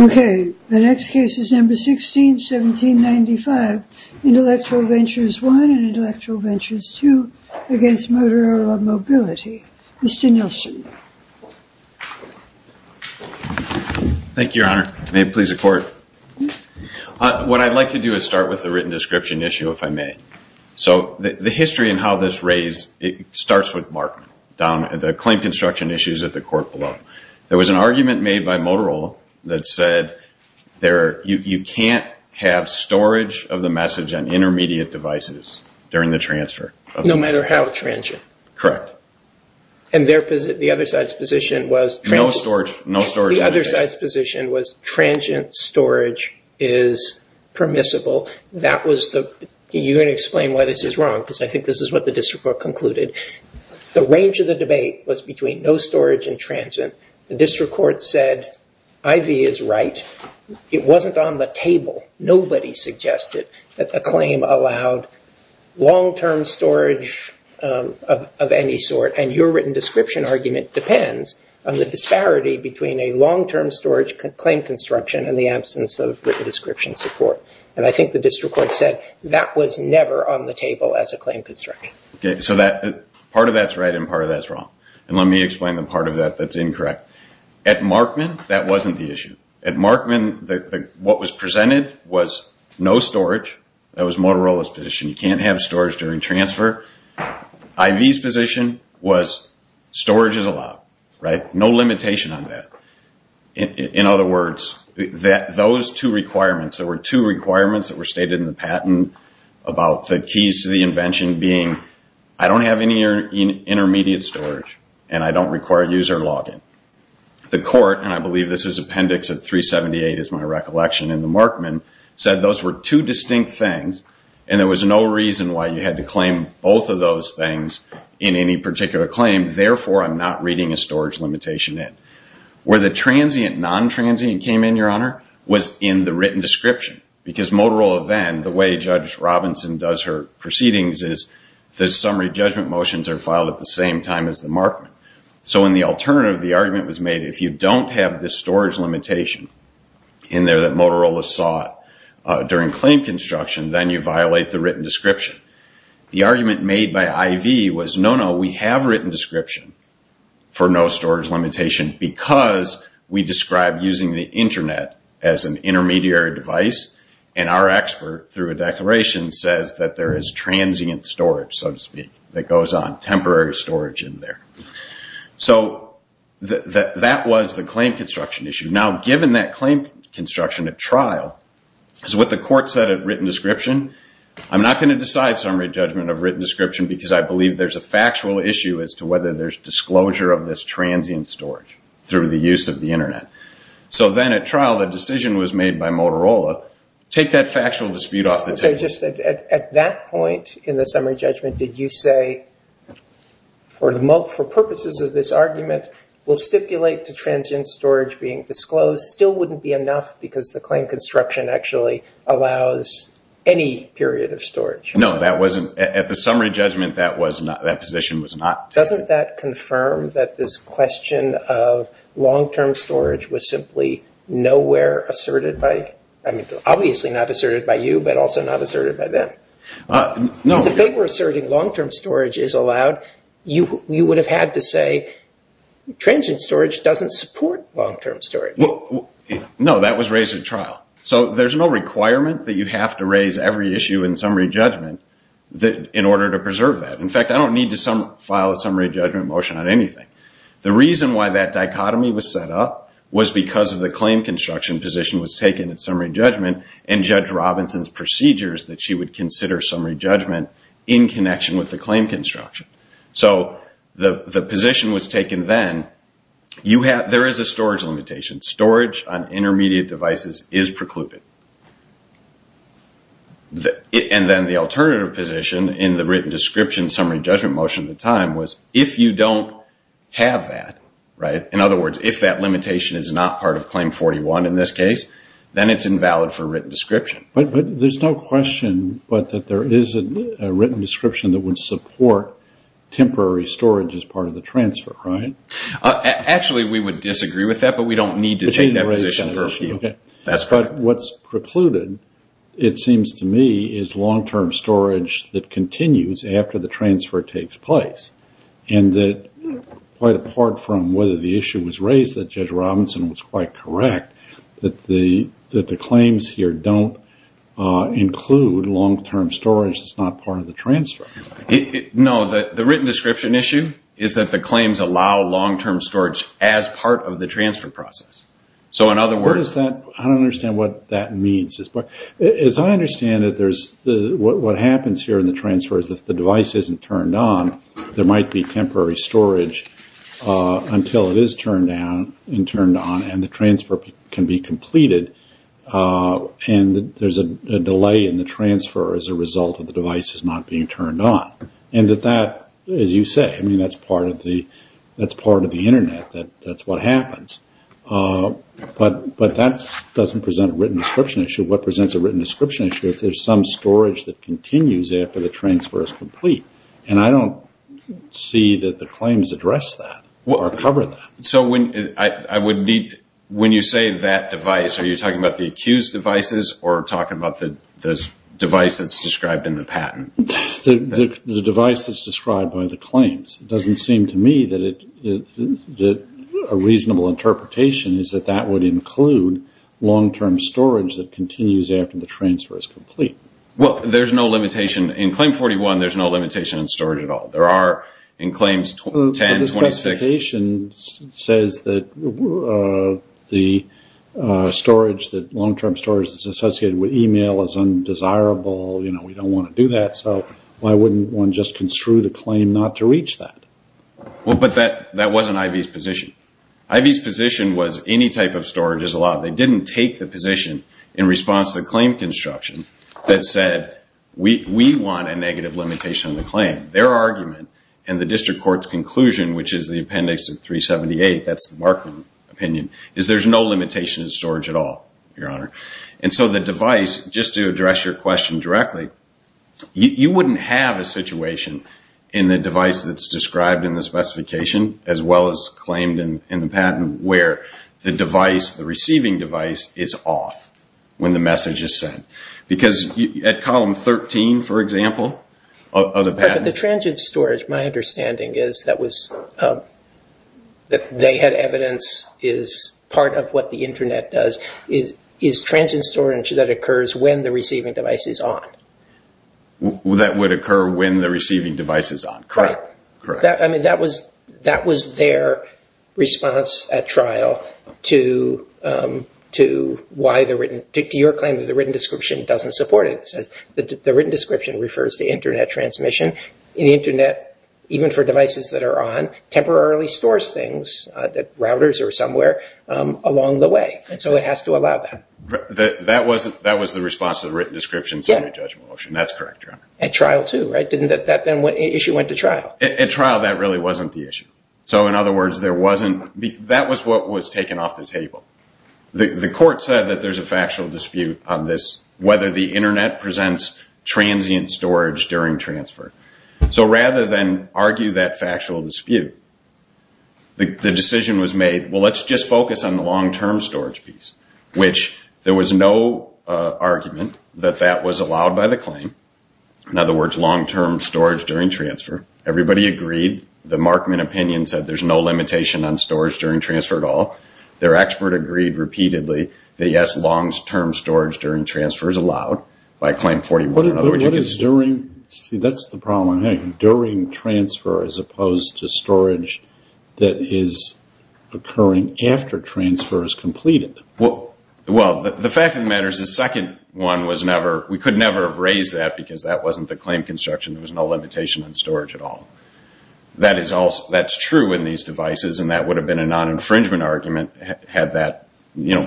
Okay, the next case is number 16-1795. Intellectual Ventures I and Intellectual Ventures II against Motorola Mobility. Mr. Nielsen. Thank you, Your Honor. May it please the Court. What I'd like to do is start with the written description issue, if I may. So the history and how this raised, it starts with Mark down at the claim construction issues at the court below. There was an argument made by Motorola that said you can't have storage of the message on intermediate devices during the transfer. No matter how transient? Correct. And the other side's position was transient storage is permissible. You're going to explain why this is wrong because I think this is what the district court concluded. The range of the wasn't on the table. Nobody suggested that the claim allowed long-term storage of any sort and your written description argument depends on the disparity between a long-term storage claim construction and the absence of written description support. And I think the district court said that was never on the table as a claim construction. Okay, so part of that's right and part of that's wrong. And let me explain the part of that that's incorrect. At Markman, that wasn't the issue. At Markman, what was presented was no storage. That was Motorola's position. You can't have storage during transfer. IV's position was storage is allowed, right? No limitation on that. In other words, those two requirements, there were two requirements that were stated in the patent about the keys to the invention being I don't have any intermediate storage and I don't require user login. The court, and I believe this is appendix of 378 is my recollection in the Markman, said those were two distinct things and there was no reason why you had to claim both of those things in any particular claim. Therefore, I'm not reading a storage limitation in. Where the transient, non-transient came in, Your Honor, was in the written description because Motorola then, the way Judge Robinson does her proceedings is the summary judgment motions are alternative. The argument was made if you don't have the storage limitation in there that Motorola sought during claim construction, then you violate the written description. The argument made by IV was no, no, we have written description for no storage limitation because we described using the internet as an intermediary device and our expert through a declaration says that there is transient storage, so to speak, that goes on temporary storage in there. So that was the claim construction issue. Now, given that claim construction at trial, is what the court said at written description, I'm not going to decide summary judgment of written description because I believe there's a factual issue as to whether there's disclosure of this transient storage through the use of the internet. So then at trial, the decision was made by At that point in the summary judgment, did you say, for purposes of this argument, we'll stipulate to transient storage being disclosed still wouldn't be enough because the claim construction actually allows any period of storage? No, that wasn't, at the summary judgment, that position was not taken. Doesn't that confirm that this question of long-term storage is allowed? You would have had to say transient storage doesn't support long-term storage. No, that was raised at trial. So there's no requirement that you have to raise every issue in summary judgment in order to preserve that. In fact, I don't need to file a summary judgment motion on anything. The reason why that dichotomy was set up was because of the claim construction position was taken at summary judgment and Judge Robinson's procedures that she would consider summary judgment in connection with the claim construction. So the position was taken then, there is a storage limitation. Storage on intermediate devices is precluded. And then the alternative position in the written description summary judgment motion at the time was if you don't have that, in other words, if that limitation is not part of Claim 41, in this case, then it's invalid for written description. But there's no question but that there is a written description that would support temporary storage as part of the transfer, right? Actually, we would disagree with that, but we don't need to take that position. That's fine. But what's precluded, it seems to me, is long-term storage that continues after the transfer takes place. And that quite apart from whether the issue was raised that Judge Robinson was quite correct that the claims here don't include long-term storage that's not part of the transfer. No, the written description issue is that the claims allow long-term storage as part of the transfer process. So in other words... I don't understand what that means. As I understand it, what happens here in the transfer is if the device isn't turned on, there might be temporary storage until it is turned on and the transfer can be completed, and there's a delay in the transfer as a result of the device not being turned on. And that, as you say, that's part of the Internet. That's what happens. But that doesn't present a written description issue. What presents a written description issue is there's some storage that continues after the claims address that or cover that. So when you say that device, are you talking about the accused devices or talking about the device that's described in the patent? The device that's described by the claims. It doesn't seem to me that a reasonable interpretation is that that would include long-term storage that continues after the transfer is complete. Well, there's no limitation on storage at all. There are in claims 10, 26... But the specification says that the storage, that long-term storage that's associated with email is undesirable. We don't want to do that, so why wouldn't one just construe the claim not to reach that? Well, but that wasn't IV's position. IV's position was any type of storage is allowed. They didn't take the position in response to claim construction that said, we want a negative limitation on the claim. Their argument and the district court's conclusion, which is the appendix of 378, that's the Markman opinion, is there's no limitation in storage at all, Your Honor. And so the device, just to address your question directly, you wouldn't have a situation in the device that's described in the specification as well as claimed in the patent where the device, the receiving device, is off when the message is sent. Because at column 13, for example, of the patent... But the transient storage, my understanding is that they had evidence, is part of what the internet does, is transient storage that occurs when the receiving device is on. That would occur when the receiving device is on, correct? Correct. I mean, that was their response at trial to your claim that the written description doesn't support it. It says the written description refers to internet transmission. The internet, even for devices that are on, temporarily stores things, routers or somewhere, along the way. And so it has to allow that. That was the response to the written description in the judgment motion. That's correct, Your Honor. At trial too, right? That issue went to trial. At trial, that really wasn't the issue. So in other words, there wasn't... That was what was taken off the table. The court said that there's a factual dispute on this, whether the internet presents transient storage during transfer. So rather than argue that factual dispute, the decision was made, well, let's just focus on the long-term storage piece, which there was no argument that that was allowed by the claim. In other words, long-term storage during transfer. Everybody agreed. The Markman opinion said there's no limitation on storage during transfer at all. Their expert agreed repeatedly that yes, long-term storage during transfer is allowed by Claim 41. But what is during... See, that's the problem. Hey, during transfer as opposed to storage that is occurring after transfer is completed. Well, the fact of the matter is the second one was never... We could never have raised that because that wasn't the claim construction. There was no limitation on storage at all. That's true in these devices and that would have been a non-infringement argument had that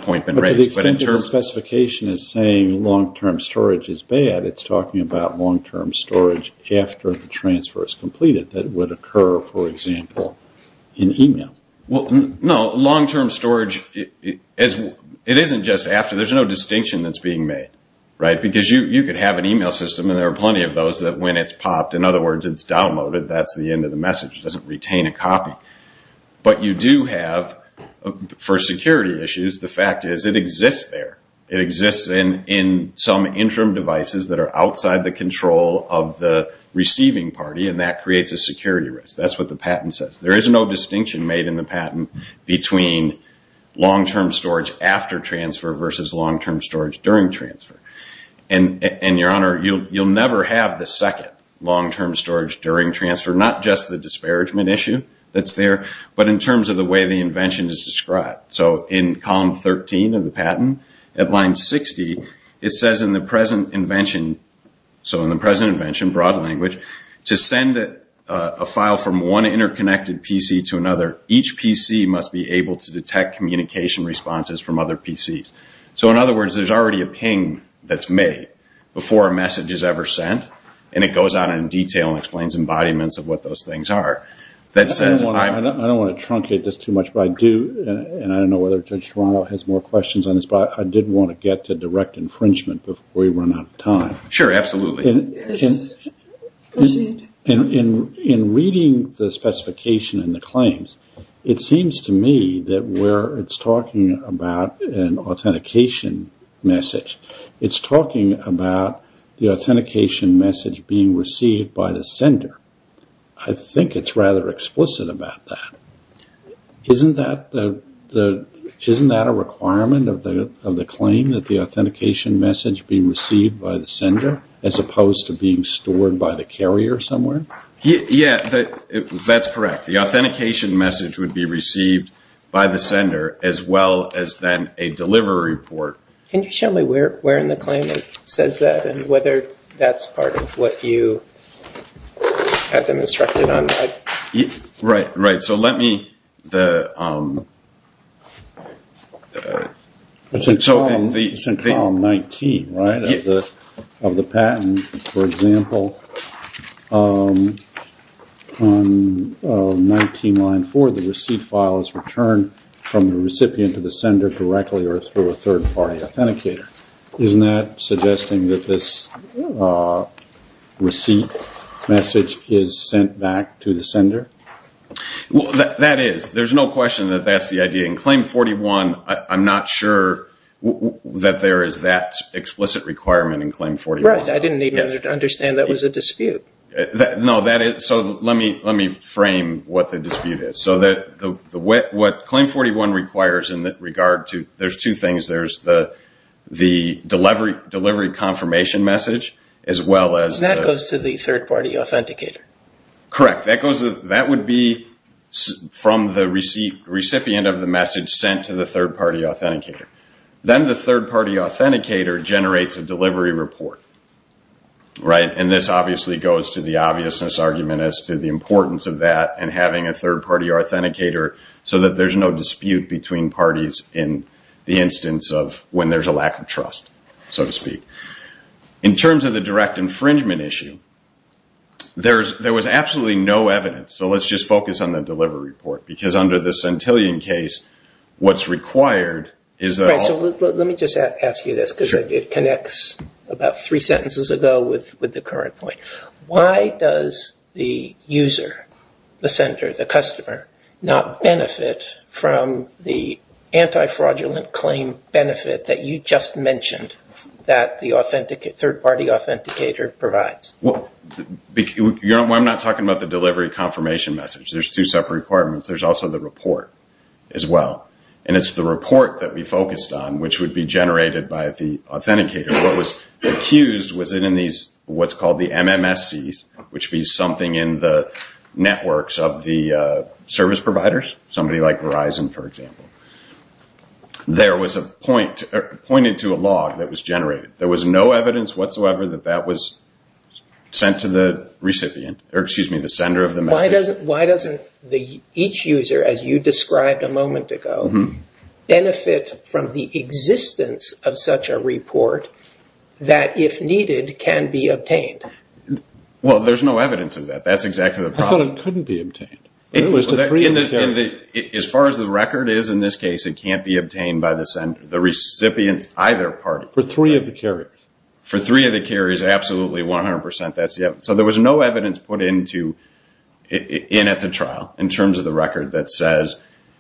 point been raised. But the extension specification is saying long-term storage is bad. It's talking about long-term storage after the transfer is completed that would occur, for example, in email. Well, no. Long-term storage, it isn't just after. There's no distinction that's being made, right? Because you could have an email system and there are plenty of those that when it's popped, in other words, it's downloaded, that's the end of the message. It doesn't retain a copy. But you do have, for security issues, the fact is it exists there. It exists in some interim devices that are outside the control of the receiving party and that creates a security risk. That's what the patent says. There is no distinction made in the patent between long-term storage after transfer versus long-term storage during transfer. And, Your Honor, you'll never have the second long-term storage during transfer, not just the disparagement issue that's there, but in terms of the way the invention is described. So in column 13 of the patent, at line 60, it says in the present invention, so in the present invention, broad language, to send a file from one interconnected PC to another, each PC must be able to detect communication responses from other PCs. So, in other words, there's already a ping that's made before a message is ever sent, and it goes out in detail and explains embodiments of what those things are. I don't want to truncate this too much, but I do, and I don't know whether Judge Toronto has more questions on this, but I did want to get to direct infringement before we run out of time. Sure, absolutely. In reading the specification and the claims, it seems to me that where it's talking about an authentication message, it's talking about the authentication message being received by the sender. I think it's rather explicit about that. Isn't that a requirement of the claim, that the authentication message be received by the sender, as opposed to being stored by the carrier somewhere? Yeah, that's correct. The authentication message would be received by the sender, as well as then a delivery report. Can you show me where in the claim it says that, and whether that's part of what you had them instructed on? Right, right. So, let me... It's in column 19, right, of the patent, for example. On 19, line 4, the receipt file is returned from the recipient to the sender directly, or through a third-party authenticator. Isn't that suggesting that this receipt message is sent back to the sender? Well, that is. There's no question that that's the idea. In Claim 41, I'm not sure that there is that explicit requirement in Claim 41. Right, I didn't need to understand that was a dispute. No, that is. So, let me frame what the dispute is. So, what Claim 41 requires in regard to... There's two things. There's the delivery confirmation message, as well as... That goes to the third-party authenticator. Correct. That would be from the recipient of the message sent to the third-party authenticator. Then the third-party authenticator generates a delivery report. And this obviously goes to the obviousness argument as to the importance of that, and having a third-party authenticator so that there's no dispute between parties in the instance of when there's a lack of trust, so to speak. In terms of the direct infringement issue, there was absolutely no evidence. So, let's just focus on the delivery report, because under the Centillion case, what's required... Let me just ask you this, because it connects about three sentences ago with the current point. Why does the user, the sender, the customer, not benefit from the anti-fraudulent claim benefit that you just mentioned that the third-party authenticator provides? I'm not talking about the delivery confirmation message. There's two separate requirements. There's also the report, as well. And it's the report that we focused on, which would be generated by the authenticator. What was accused was in what's called the MMSCs, which means something in the networks of the service providers, somebody like Verizon, for example. There was a point pointed to a log that was generated. There was no evidence whatsoever that that was sent to the recipient, or excuse me, the sender of the message. Why doesn't each user, as you described a moment ago, benefit from the existence of such a report that, if needed, can be obtained? Well, there's no evidence of that. That's exactly the problem. I thought it couldn't be obtained. As far as the record is in this case, it can't be obtained by the sender. The recipient's either party. For three of the carriers. For three of the carriers, absolutely, 100%. There was no evidence put in at the trial in terms of the record that says,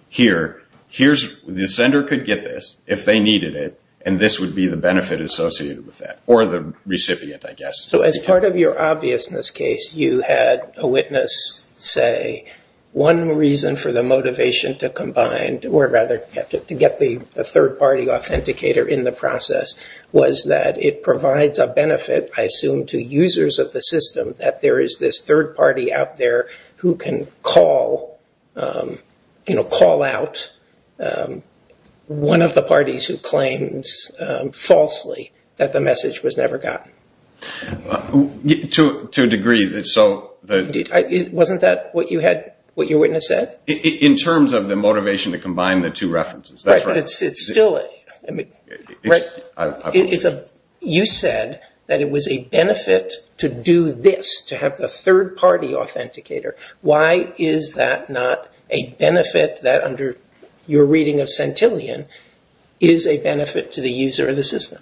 here, the sender could get this if they needed it, and this would be the benefit associated with that. Or the recipient, I guess. So as part of your obviousness case, you had a witness say, one reason for the motivation to combine, or rather to get the third-party authenticator in the process, was that it provides a benefit, I assume, to users of the system, that there is this third-party out there who can call out one of the parties who claims falsely that the message was never gotten. To a degree. Wasn't that what your witness said? In terms of the motivation to combine the two references, that's right. But you said that it was a benefit to do this, to have the third-party authenticator. Why is that not a benefit that under your reading of Centillion is a benefit to the user of the system?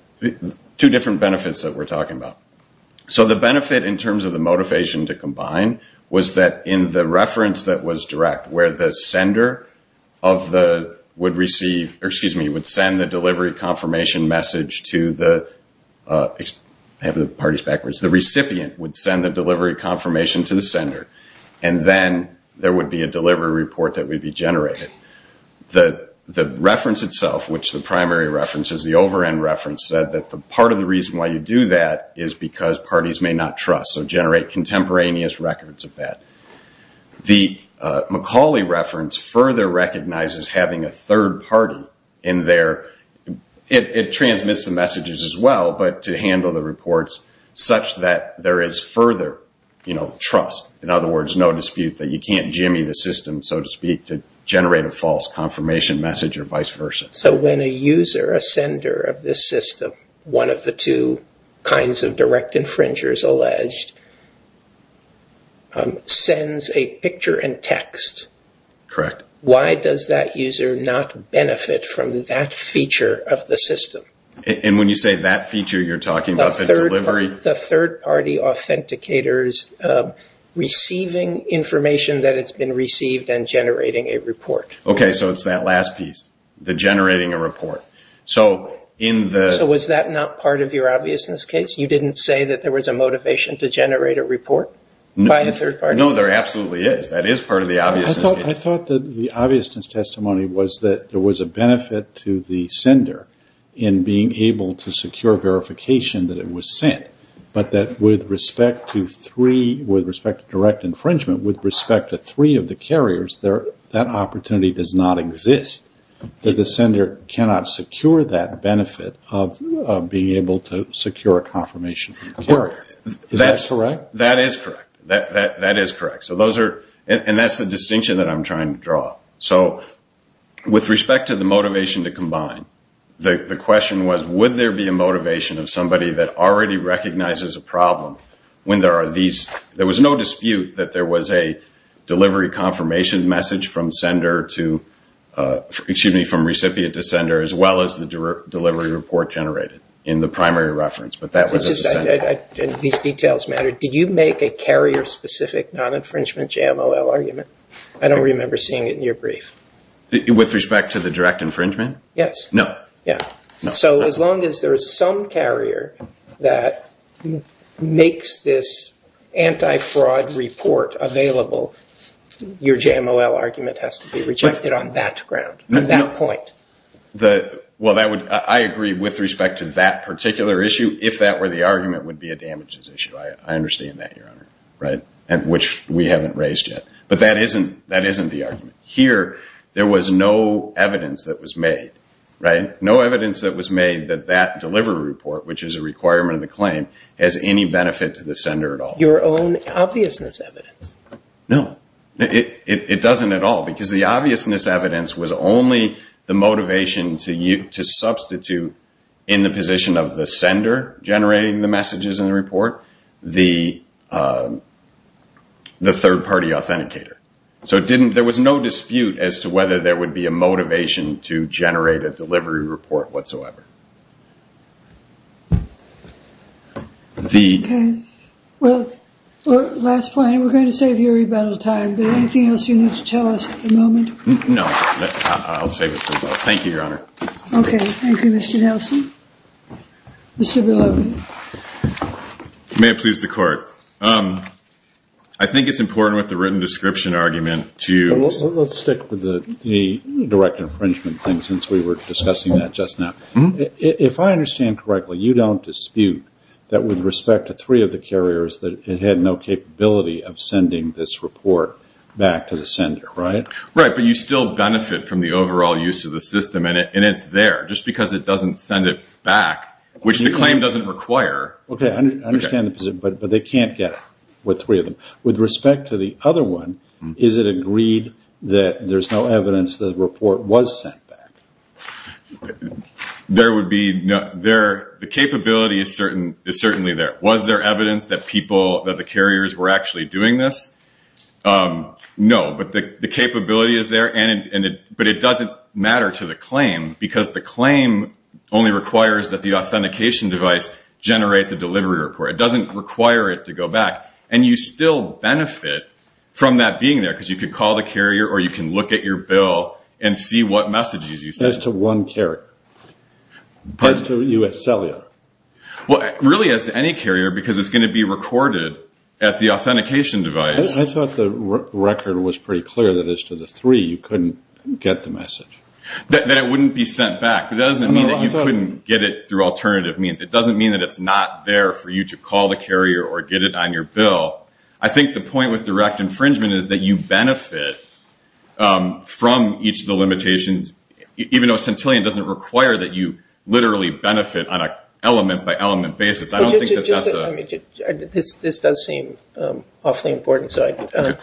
Two different benefits that we're talking about. So the benefit in terms of the motivation to combine was that in the reference that was direct, where the sender would send the delivery confirmation message to the... I have the parties backwards. The recipient would send the delivery confirmation to the sender, and then there would be a delivery report that would be generated. The reference itself, which the primary reference is, the over-end reference said that the part of the reason why you do that is because parties may not trust, so generate contemporaneous records of that. The Macaulay reference further recognizes having a third party in there. It transmits the messages as well, but to handle the reports such that there is further trust. In other words, no dispute that you can't jimmy the system, so to speak, to generate a false confirmation message or vice versa. So when a user, a sender of this system, one of the two kinds of direct infringers alleged, sends a picture and text, why does that user not benefit from that feature of the system? And when you say that feature, you're talking about the delivery... The third party authenticators receiving information that has been received and generating a report. Okay, so it's that last piece, the generating a report. So was that not part of your obviousness case? You didn't say that there was a motivation to generate a report, by a third party? No, there absolutely is. That is part of the obviousness case. I thought that the obviousness testimony was that there was a benefit to the sender in being able to secure verification that it was sent, but that with respect to three, with respect to direct infringement, with respect to three of the carriers, that opportunity does not exist. That the sender cannot secure that benefit of being able to secure a confirmation. Is that correct? That is correct. That is correct. And that's the distinction that I'm trying to draw. So with respect to the motivation to combine, the question was, would there be a motivation of somebody that already recognizes a problem when there are these... There was no dispute that there was a delivery confirmation message from recipient to sender, as well as the delivery report generated in the primary reference. It's just that these details matter. Did you make a carrier-specific non-infringement JMOL argument? I don't remember seeing it in your brief. With respect to the direct infringement? Yes. No. Yeah. So as long as there is some carrier that makes this anti-fraud report available, your JMOL argument has to be rejected on that ground, on that point. Well, I agree with respect to that particular issue. If that were the argument, it would be a damages issue. I understand that, Your Honor. Right. And which we haven't raised yet. But that isn't the argument. Here, there was no evidence that was made, right? No evidence that was made that that delivery report, which is a requirement of the claim, has any benefit to the sender at all. Your own obviousness evidence? No, it doesn't at all. Because the obviousness evidence was only the motivation to substitute in the position of the sender generating the messages in the report, the third party authenticator. So there was no dispute as to whether there would be a motivation to generate a delivery report whatsoever. OK. Well, last point. We're going to save you a rebuttal time. Is there anything else you need to tell us at the moment? No, I'll save it for later. Thank you, Your Honor. OK. Thank you, Mr. Nelson. Mr. Bilodeau. May it please the court. I think it's important with the written description argument to- Let's stick with the direct infringement thing, since we were discussing that just now. If I understand correctly, you don't dispute that with respect to three of the carriers that it had no capability of sending this report back to the sender, right? Right. But you still benefit from the overall use of the system. And it's there just because it doesn't send it back, which the claim doesn't require. OK, I understand the position, but they can't get it with three of them. With respect to the other one, is it agreed that there's no evidence the report was sent back? There would be- The capability is certainly there. Was there evidence that the carriers were actually doing this? No, but the capability is there. But it doesn't matter to the claim, because the claim only requires that the authentication device generate the delivery report. It doesn't require it to go back. And you still benefit from that being there, because you can call the carrier, or you can look at your bill and see what messages you send. As to one carrier? As to U.S. Cellular? Well, really as to any carrier, because it's going to be recorded at the authentication device. I thought the record was pretty clear that as to the three, you couldn't get the message. That it wouldn't be sent back. But that doesn't mean that you couldn't get it through alternative means. It doesn't mean that it's not there for you to call the carrier, or get it on your bill. I think the point with direct infringement is that you benefit from each of the limitations, even though Centillion doesn't require that you literally benefit on an element-by-element basis. I don't think that that's a- This does seem awfully important. So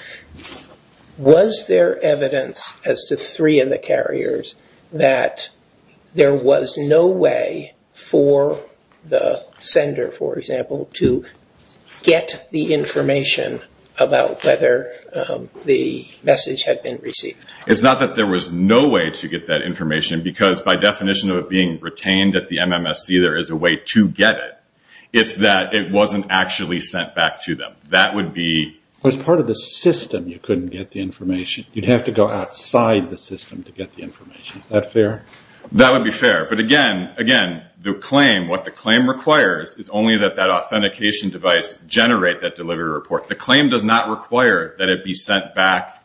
was there evidence as to three of the carriers that there was no way for the sender, for example, to get the information about whether the message had been received? It's not that there was no way to get that information, because by definition of it being retained at the MMSC, there is a way to get it. It's that it wasn't actually sent back to them. That would be- As part of the system, you couldn't get the information. You'd have to go outside the system to get the information. Is that fair? That would be fair. But again, the claim, what the claim requires, is only that that authentication device generate that delivery report. The claim does not require that it be sent back-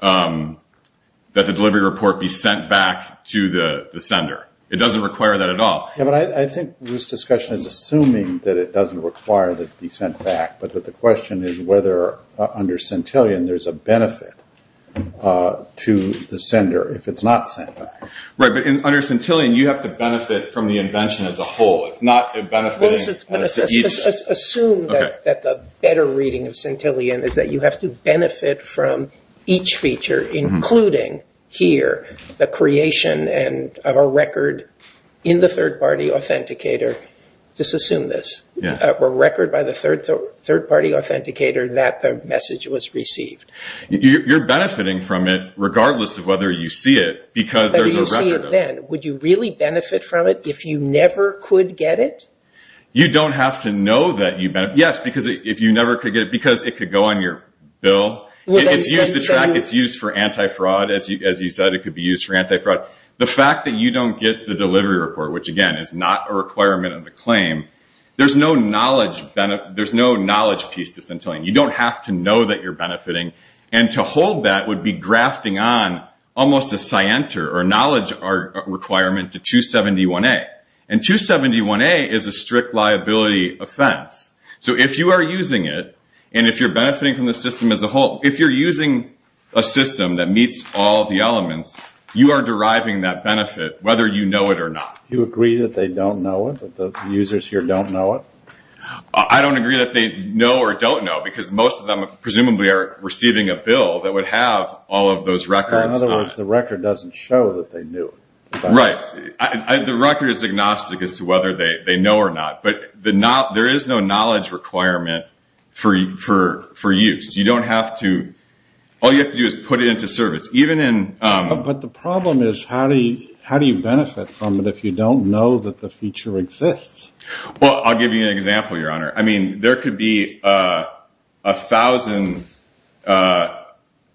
that the delivery report be sent back to the sender. It doesn't require that at all. Yeah, but I think this discussion is assuming that it doesn't require that it be sent back. The question is whether under Centillion, there's a benefit to the sender if it's not sent back. Right, but under Centillion, you have to benefit from the invention as a whole. It's not a benefit to each- Assume that the better reading of Centillion is that you have to benefit from each feature, including here the creation of a record in the third-party authenticator. Just assume this. A record by the third-party authenticator that the message was received. You're benefiting from it regardless of whether you see it, because there's a record of it. Would you really benefit from it if you never could get it? You don't have to know that you benefit. Yes, because if you never could get it, because it could go on your bill. It's used for anti-fraud, as you said, it could be used for anti-fraud. The fact that you don't get the delivery report, which again is not a requirement of the claim, there's no knowledge piece to Centillion. You don't have to know that you're benefiting. And to hold that would be grafting on almost a scienter or knowledge requirement to 271A. And 271A is a strict liability offense. So if you are using it, and if you're benefiting from the system as a whole, if you're using a system that meets all the elements, you are deriving that benefit whether you know it or not. You agree that they don't know it, that the users here don't know it? I don't agree that they know or don't know, because most of them presumably are receiving a bill that would have all of those records. In other words, the record doesn't show that they knew. Right. The record is agnostic as to whether they know or not. But there is no knowledge requirement for use. You don't have to... All you have to do is put it into service, even in... But the problem is, how do you benefit from it if you don't know that the feature exists? Well, I'll give you an example, Your Honor. I mean, there could be a thousand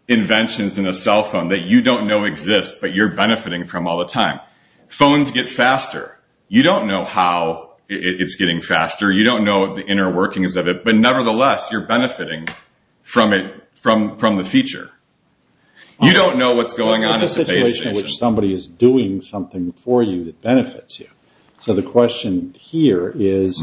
inventions in a cell phone that you don't know exist, but you're benefiting from all the time. Phones get faster. You don't know how it's getting faster. You don't know the inner workings of it. But nevertheless, you're benefiting from the feature. You don't know what's going on at the base station. It's a situation in which somebody is doing something for you that benefits you. So the question here is,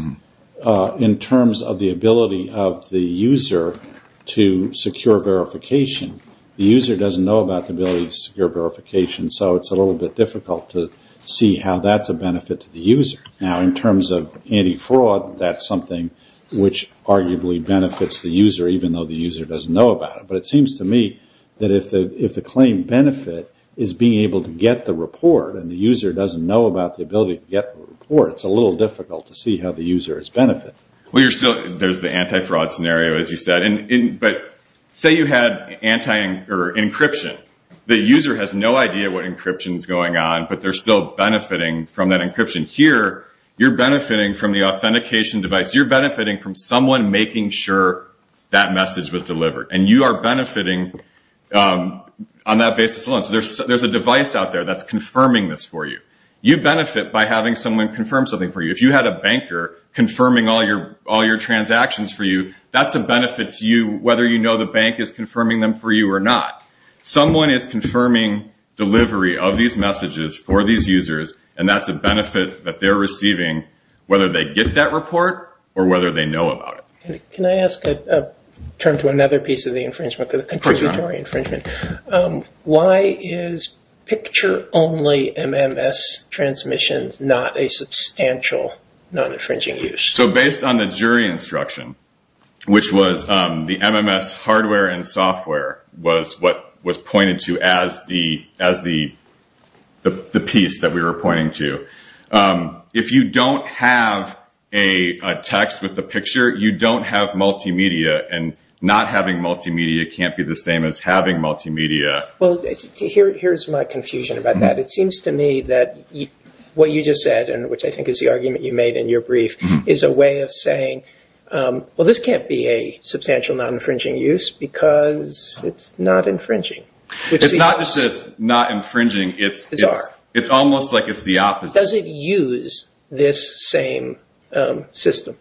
in terms of the ability of the user to secure verification, the user doesn't know about the ability to secure verification. So it's a little bit difficult to see how that's a benefit to the user. Now, in terms of anti-fraud, that's something which arguably benefits the user, even though the user doesn't know about it. But it seems to me that if the claim benefit is being able to get the report and the user doesn't know about the ability to get the report, it's a little difficult to see how the user is benefiting. Well, there's the anti-fraud scenario, as you said. But say you had encryption. The user has no idea what encryption is going on, but they're still benefiting from that encryption. Here, you're benefiting from the authentication device. You're benefiting from someone making sure that message was delivered. And you are benefiting on that basis alone. There's a device out there that's confirming this for you. You benefit by having someone confirm something for you. If you had a banker confirming all your transactions for you, that's a benefit to you, whether you know the bank is confirming them for you or not. Someone is confirming delivery of these messages for these users, and that's a benefit that they're receiving, whether they get that report or whether they know about it. Can I ask a term to another piece of the infringement, the contributory infringement? Why is picture-only MMS transmission not a substantial non-infringing use? So based on the jury instruction, which was the MMS hardware and software, was what was pointed to as the piece that we were pointing to. If you don't have a text with the picture, you don't have multimedia. And not having multimedia can't be the same as having multimedia. Well, here's my confusion about that. It seems to me that what you just said, and which I think is the argument you made in your brief, is a way of saying, well, this can't be a substantial non-infringing use because it's not infringing. It's not just that it's not infringing. It's almost like it's the opposite. Does it use this same system?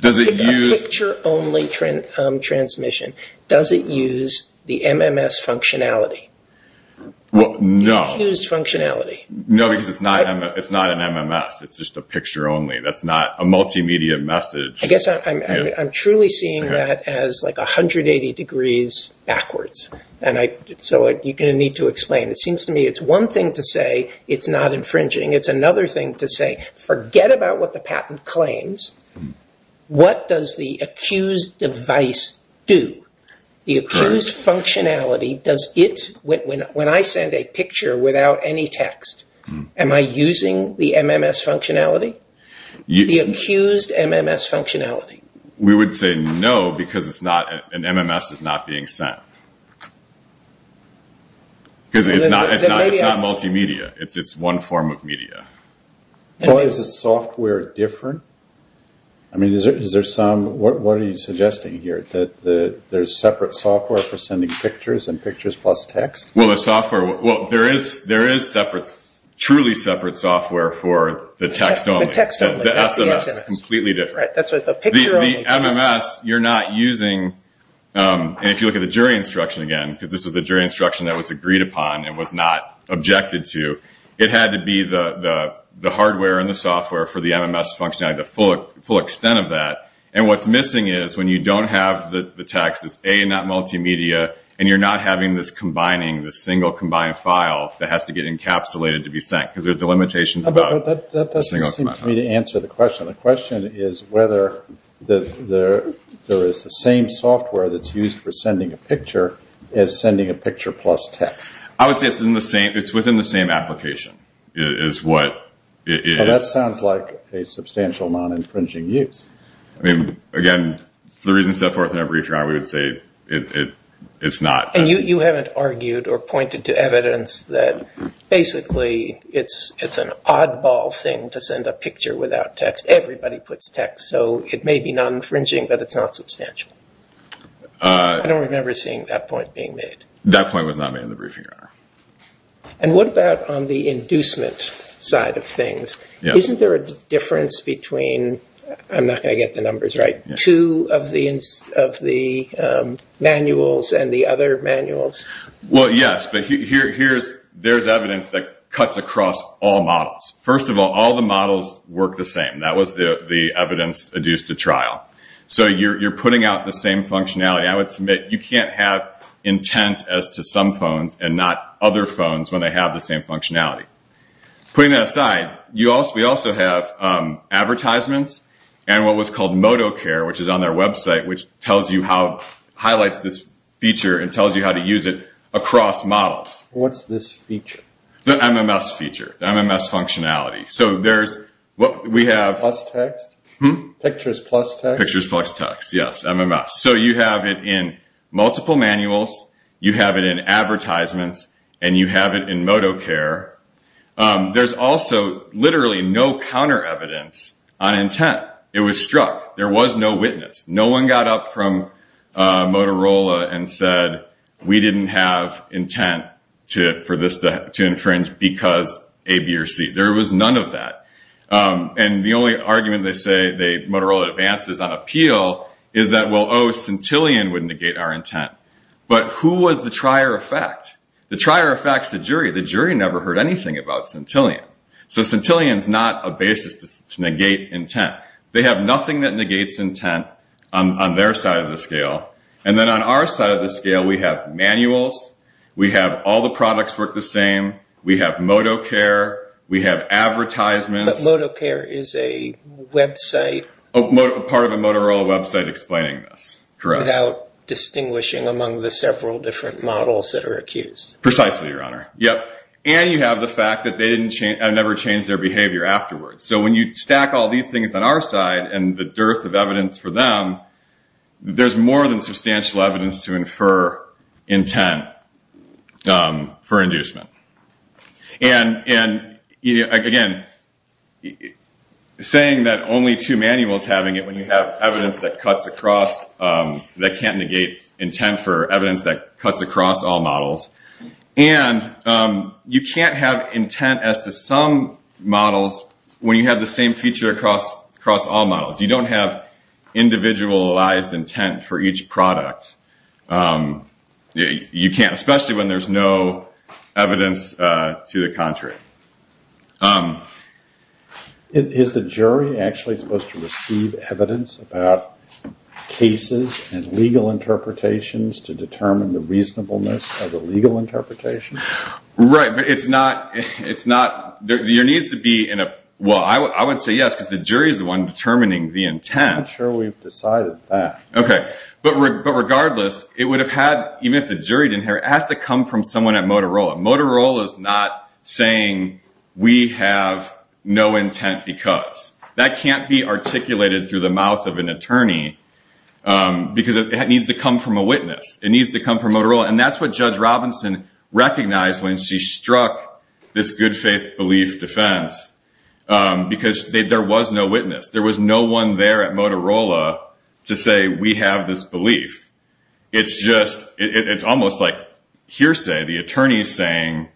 The picture-only transmission, does it use the MMS functionality? Well, no. You accused functionality. No, because it's not an MMS. It's just a picture-only. That's not a multimedia message. I guess I'm truly seeing that as like 180 degrees backwards. And so you're going to need to explain. It seems to me it's one thing to say it's not infringing. It's another thing to say, forget about what the patent claims. What does the accused device do? The accused functionality, does it, when I send a picture without any text, am I using the MMS functionality? The accused MMS functionality. We would say no, because an MMS is not being sent. Because it's not multimedia. It's one form of media. Is the software different? I mean, is there some, what are you suggesting here? There's separate software for sending pictures, and pictures plus text? Well, the software, well, there is separate, truly separate software for the text-only. The text-only. The SMS, completely different. Right, that's why it's a picture-only. The MMS, you're not using, and if you look at the jury instruction again, because this was a jury instruction that was agreed upon and was not objected to, it had to be the hardware and the software for the MMS functionality, the full extent of that. And what's missing is, when you don't have the text, it's A, not multimedia, and you're not having this combining, this single combined file that has to get encapsulated to be sent. Because there's the limitations about a single combined file. But that doesn't seem to me to answer the question. The question is whether there is the same software that's used for sending a picture as sending a picture plus text. I would say it's in the same, it's within the same application, is what it is. Well, that sounds like a substantial non-infringing use. I mean, again, for the reasons set forth in that briefing, I would say it's not. And you haven't argued or pointed to evidence that basically it's an oddball thing to send a picture without text. Everybody puts text. So it may be non-infringing, but it's not substantial. I don't remember seeing that point being made. That point was not made in the briefing. And what about on the inducement side of things? Isn't there a difference between, I'm not going to get the numbers right, two of the manuals and the other manuals? Well, yes. But there's evidence that cuts across all models. First of all, all the models work the same. That was the evidence adduced to trial. So you're putting out the same functionality. I would submit you can't have intent as to some phones and not other phones when they have the same functionality. Putting that aside, we also have advertisements and what was called ModoCare, which is on their website, which highlights this feature and tells you how to use it across models. What's this feature? The MMS feature, the MMS functionality. So there's what we have... Plus text? Pictures plus text? Pictures plus text. Yes, MMS. So you have it in multiple manuals. You have it in advertisements and you have it in ModoCare. There's also literally no counter evidence on intent. It was struck. There was no witness. No one got up from Motorola and said, we didn't have intent for this to infringe because A, B, or C. There was none of that. And the only argument they say Motorola advances on appeal is that, well, oh, Centillion would negate our intent. But who was the trier effect? The trier effect's the jury. The jury never heard anything about Centillion. So Centillion's not a basis to negate intent. They have nothing that negates intent on their side of the scale. And then on our side of the scale, we have manuals. We have all the products work the same. We have ModoCare. We have advertisements. But ModoCare is a website. Part of the Motorola website explaining this. Correct. Without distinguishing among the several different models that are accused. Precisely, your honor. And you have the fact that they never changed their behavior afterwards. So when you stack all these things on our side and the dearth of evidence for them, there's more than substantial evidence to infer intent for inducement. And again, saying that only two manuals having it when you have evidence that cuts across, that can't negate intent for evidence that cuts across all models. And you can't have intent as to some models when you have the same feature across all models. You don't have individualized intent for each product. You can't, especially when there's no evidence to the contrary. Is the jury actually supposed to receive evidence about cases and legal interpretations to determine the reasonableness of the legal interpretation? Right. But it's not, there needs to be, well, I would say yes, because the jury is the one determining the intent. I'm sure we've decided that. Okay. But regardless, it would have had, even if the jury didn't care, it has to come from someone at Motorola. Motorola is not saying we have no intent because. That can't be articulated through the mouth of an attorney. Because it needs to come from a witness. It needs to come from Motorola. And that's what Judge Robinson recognized when she struck this good faith belief defense. Because there was no witness. There was no one there at Motorola to say we have this belief. It's just, it's almost like hearsay. The attorney's saying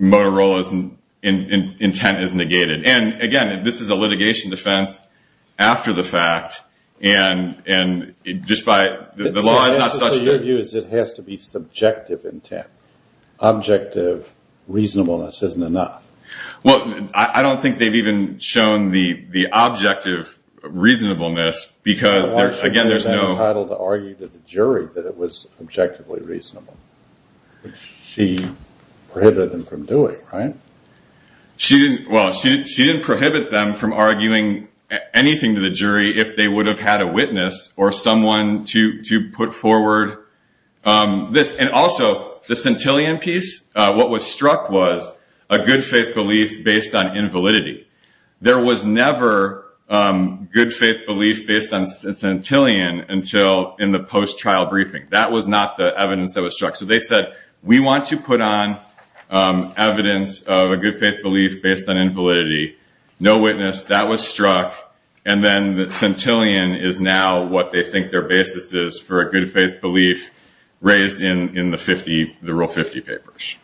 Motorola's intent is negated. And again, this is a litigation defense after the fact. And just by, the law is not such. So your view is it has to be subjective intent. Objective reasonableness isn't enough. Well, I don't think they've even shown the objective reasonableness, because there's, again, there's no. Why should they be entitled to argue to the jury that it was objectively reasonable? She prohibited them from doing, right? She didn't, well, she didn't prohibit them from arguing anything to the jury if they would have had a witness or someone to put forward this. And also, the Centillion piece, what was struck was a good faith belief based on invalidity. There was never good faith belief based on Centillion until in the post-trial briefing. That was not the evidence that was struck. So they said, we want to put on evidence of a good faith belief based on invalidity. No witness, that was struck. And then the Centillion is now what they think their basis is for a good faith belief raised in the Rule 50 papers.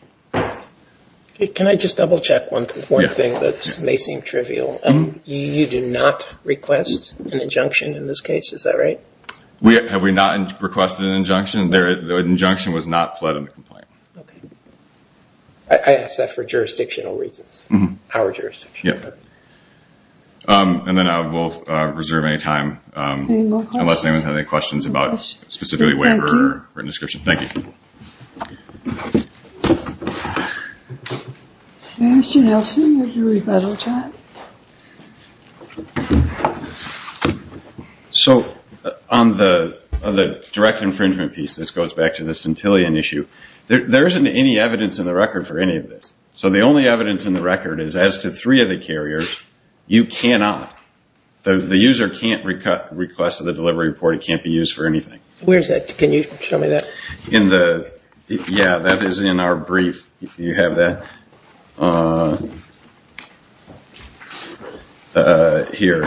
Can I just double check one thing that may seem trivial? You do not request an injunction in this case, is that right? Have we not requested an injunction? The injunction was not pled in the complaint. Okay. I asked that for jurisdictional reasons, our jurisdiction. Yep. And then I will reserve any time unless anyone has any questions about specifically whatever written description. Thank you. So on the direct infringement piece, this goes back to the Centillion issue. There isn't any evidence in the record for any of this. So the only evidence in the record is as to three of the carriers, you cannot, the user can't request the delivery report. It can't be used for anything. Where's that? Can you show me that? In the, yeah, that is in our brief. You have that here.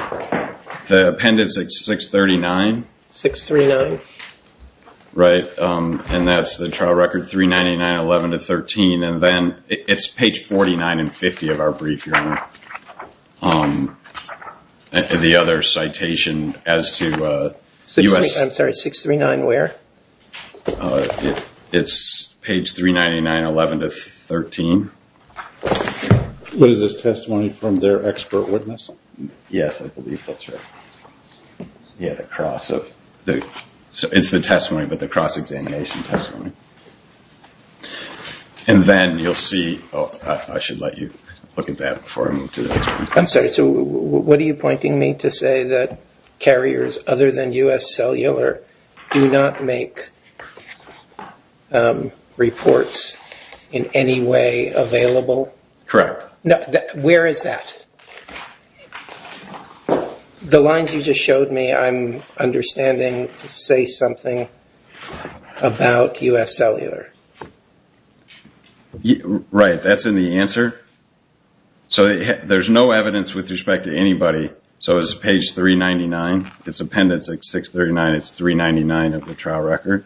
The appendix at 639. 639. Right. And that's the trial record 399, 11 to 13. And then it's page 49 and 50 of our brief, your honor. The other citation as to US. I'm sorry, 639 where? It's page 399, 11 to 13. What is this testimony from their expert witness? Yes, I believe that's right. Yeah, the cross of the, so it's the testimony, but the cross examination testimony. And then you'll see, I should let you look at that before I move to the next one. I'm sorry. So what are you pointing me to say that carriers other than US Cellular do not make reports in any way available? Correct. No, where is that? The lines you just showed me, I'm understanding to say something about US Cellular. Right. That's in the answer. So there's no evidence with respect to anybody. So it's page 399. It's appendix 639. It's 399 of the trial record.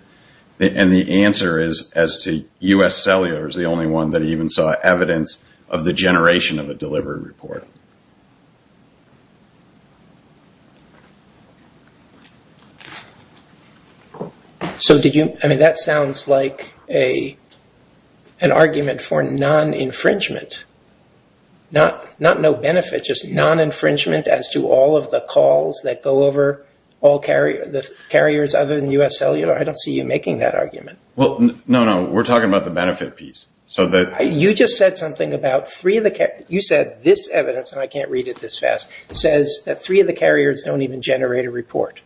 And the answer is as to US Cellular is the only one that even saw evidence of the generation of a delivery report. So did you, I mean, that sounds like a, an argument for non-infringement, not, not no benefit, just non-infringement as to all of the calls that go over all carriers, the carriers other than US Cellular. I don't see you making that argument. Well, no, no, we're talking about the benefit piece. So that- You just said something about three of the, you said this evidence, and I can't read it this fast, says that three of the carriers don't even generate a report.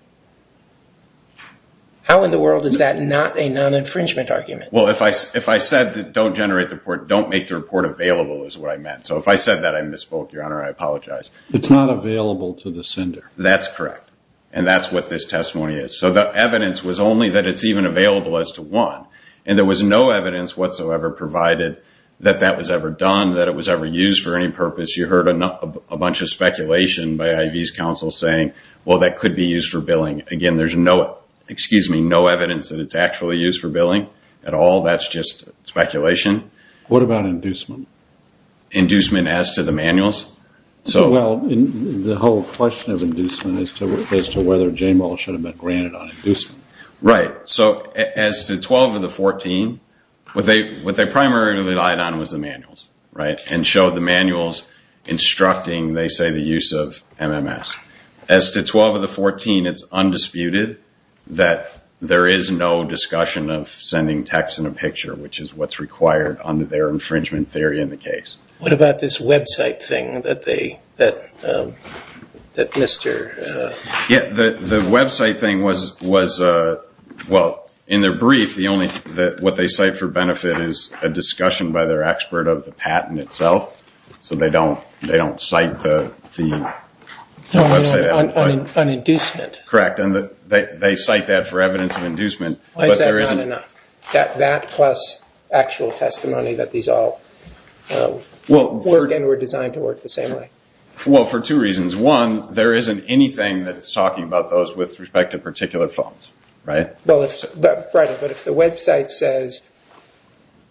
How in the world is that not a non-infringement argument? Well, if I, if I said that don't generate the report, don't make the report available is what I meant. So if I said that I misspoke, Your Honor, I apologize. It's not available to the sender. That's correct. And that's what this testimony is. So the evidence was only that it's even available as to one. And there was no evidence whatsoever provided that that was ever done, that it was ever used for any purpose. You heard a bunch of speculation by IV's counsel saying, well, that could be used for billing. Again, there's no, excuse me, no evidence that it's actually used for billing at all. That's just speculation. What about inducement? Inducement as to the manuals? So- Well, the whole question of inducement is to, as to whether J-MOL should have been granted on inducement. Right. So as to 12 of the 14, what they primarily relied on was the manuals, right? And show the manuals instructing, they say, the use of MMS. As to 12 of the 14, it's undisputed that there is no discussion of sending text in a picture, which is what's required under their infringement theory in the case. What about this website thing that they, that Mr- Yeah, the website thing was, well, in their brief, the only thing that what they cite for benefit is a discussion by their expert of the patent itself. So they don't cite the- On inducement. Correct. And they cite that for evidence of inducement. Why is that not enough? That plus actual testimony that these all work and were designed to work the same way. Well, for two reasons. One, there isn't anything that it's talking about those with respect to particular phones, right? Well, but if the website says,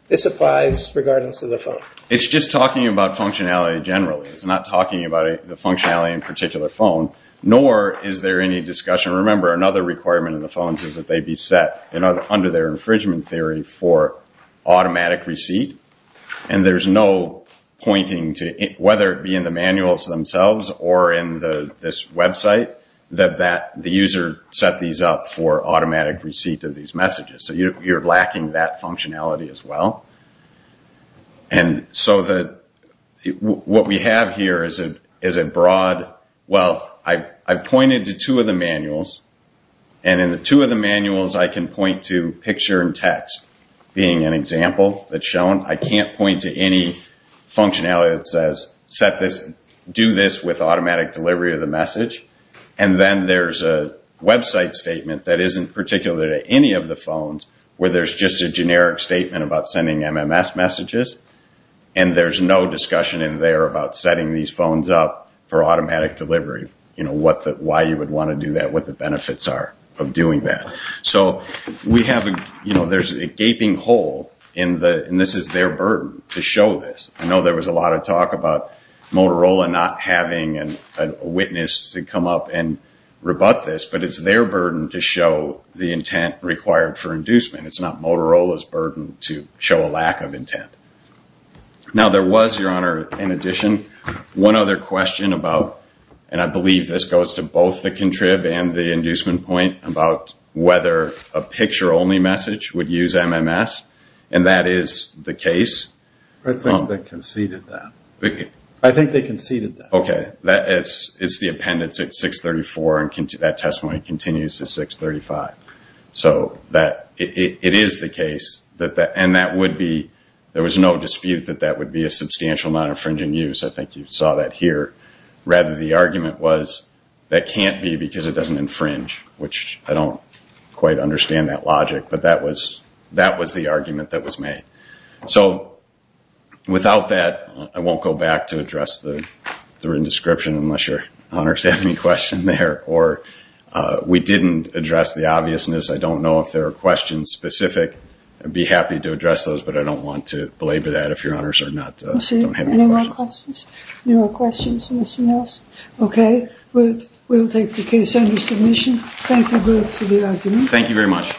this applies regardless of the phone. It's just talking about functionality generally. It's not talking about the functionality in particular phone, nor is there any discussion. Remember, another requirement in the phones is that they be set under their infringement theory for automatic receipt. And there's no pointing to it, whether it be in the manuals themselves or in this website, that the user set these up for automatic receipt of these messages. So you're lacking that functionality as well. And so that what we have here is a broad... Well, I've pointed to two of the manuals and in the two of the manuals, I can point to picture and text being an example that's shown. I can't point to any functionality that says set this, do this with automatic delivery of the message. And then there's a website statement that isn't particular to any of the phones where there's just a generic statement about sending MMS messages. And there's no discussion in there about setting these phones up for automatic delivery. Why you would want to do that, what the benefits are of doing that. So there's a gaping hole in the... And this is their burden to show this. I know there was a lot of talk about Motorola not having a witness to come up and rebut this, but it's their burden to show the intent required for inducement. It's not Motorola's burden to show a lack of intent. Now there was, Your Honor, in addition, one other question about... And I believe this goes to both the contrib and the inducement point about whether a picture-only message would use MMS. And that is the case. I think they conceded that. I think they conceded that. Okay. It's the appendix at 634 and that testimony continues to 635. So it is the case. And there was no dispute that that would be a substantial amount of infringing use. I think you saw that here. Rather, the argument was that can't be because it doesn't infringe, which I don't quite understand that logic. But that was the argument that was made. So without that, I won't go back to address the written description unless Your Honor has any question there. Or we didn't address the obviousness. I don't know if there are questions specific. I'd be happy to address those, but I don't want to belabor that if Your Honors are not... I see no more questions. No more questions, Mr. Mills. Okay. We'll take the case under submission. Thank you both for the argument. Thank you very much.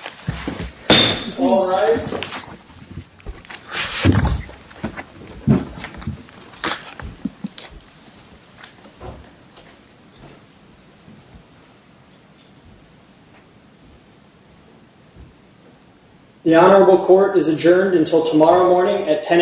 The Honorable Court is adjourned until tomorrow morning at 10 a.m.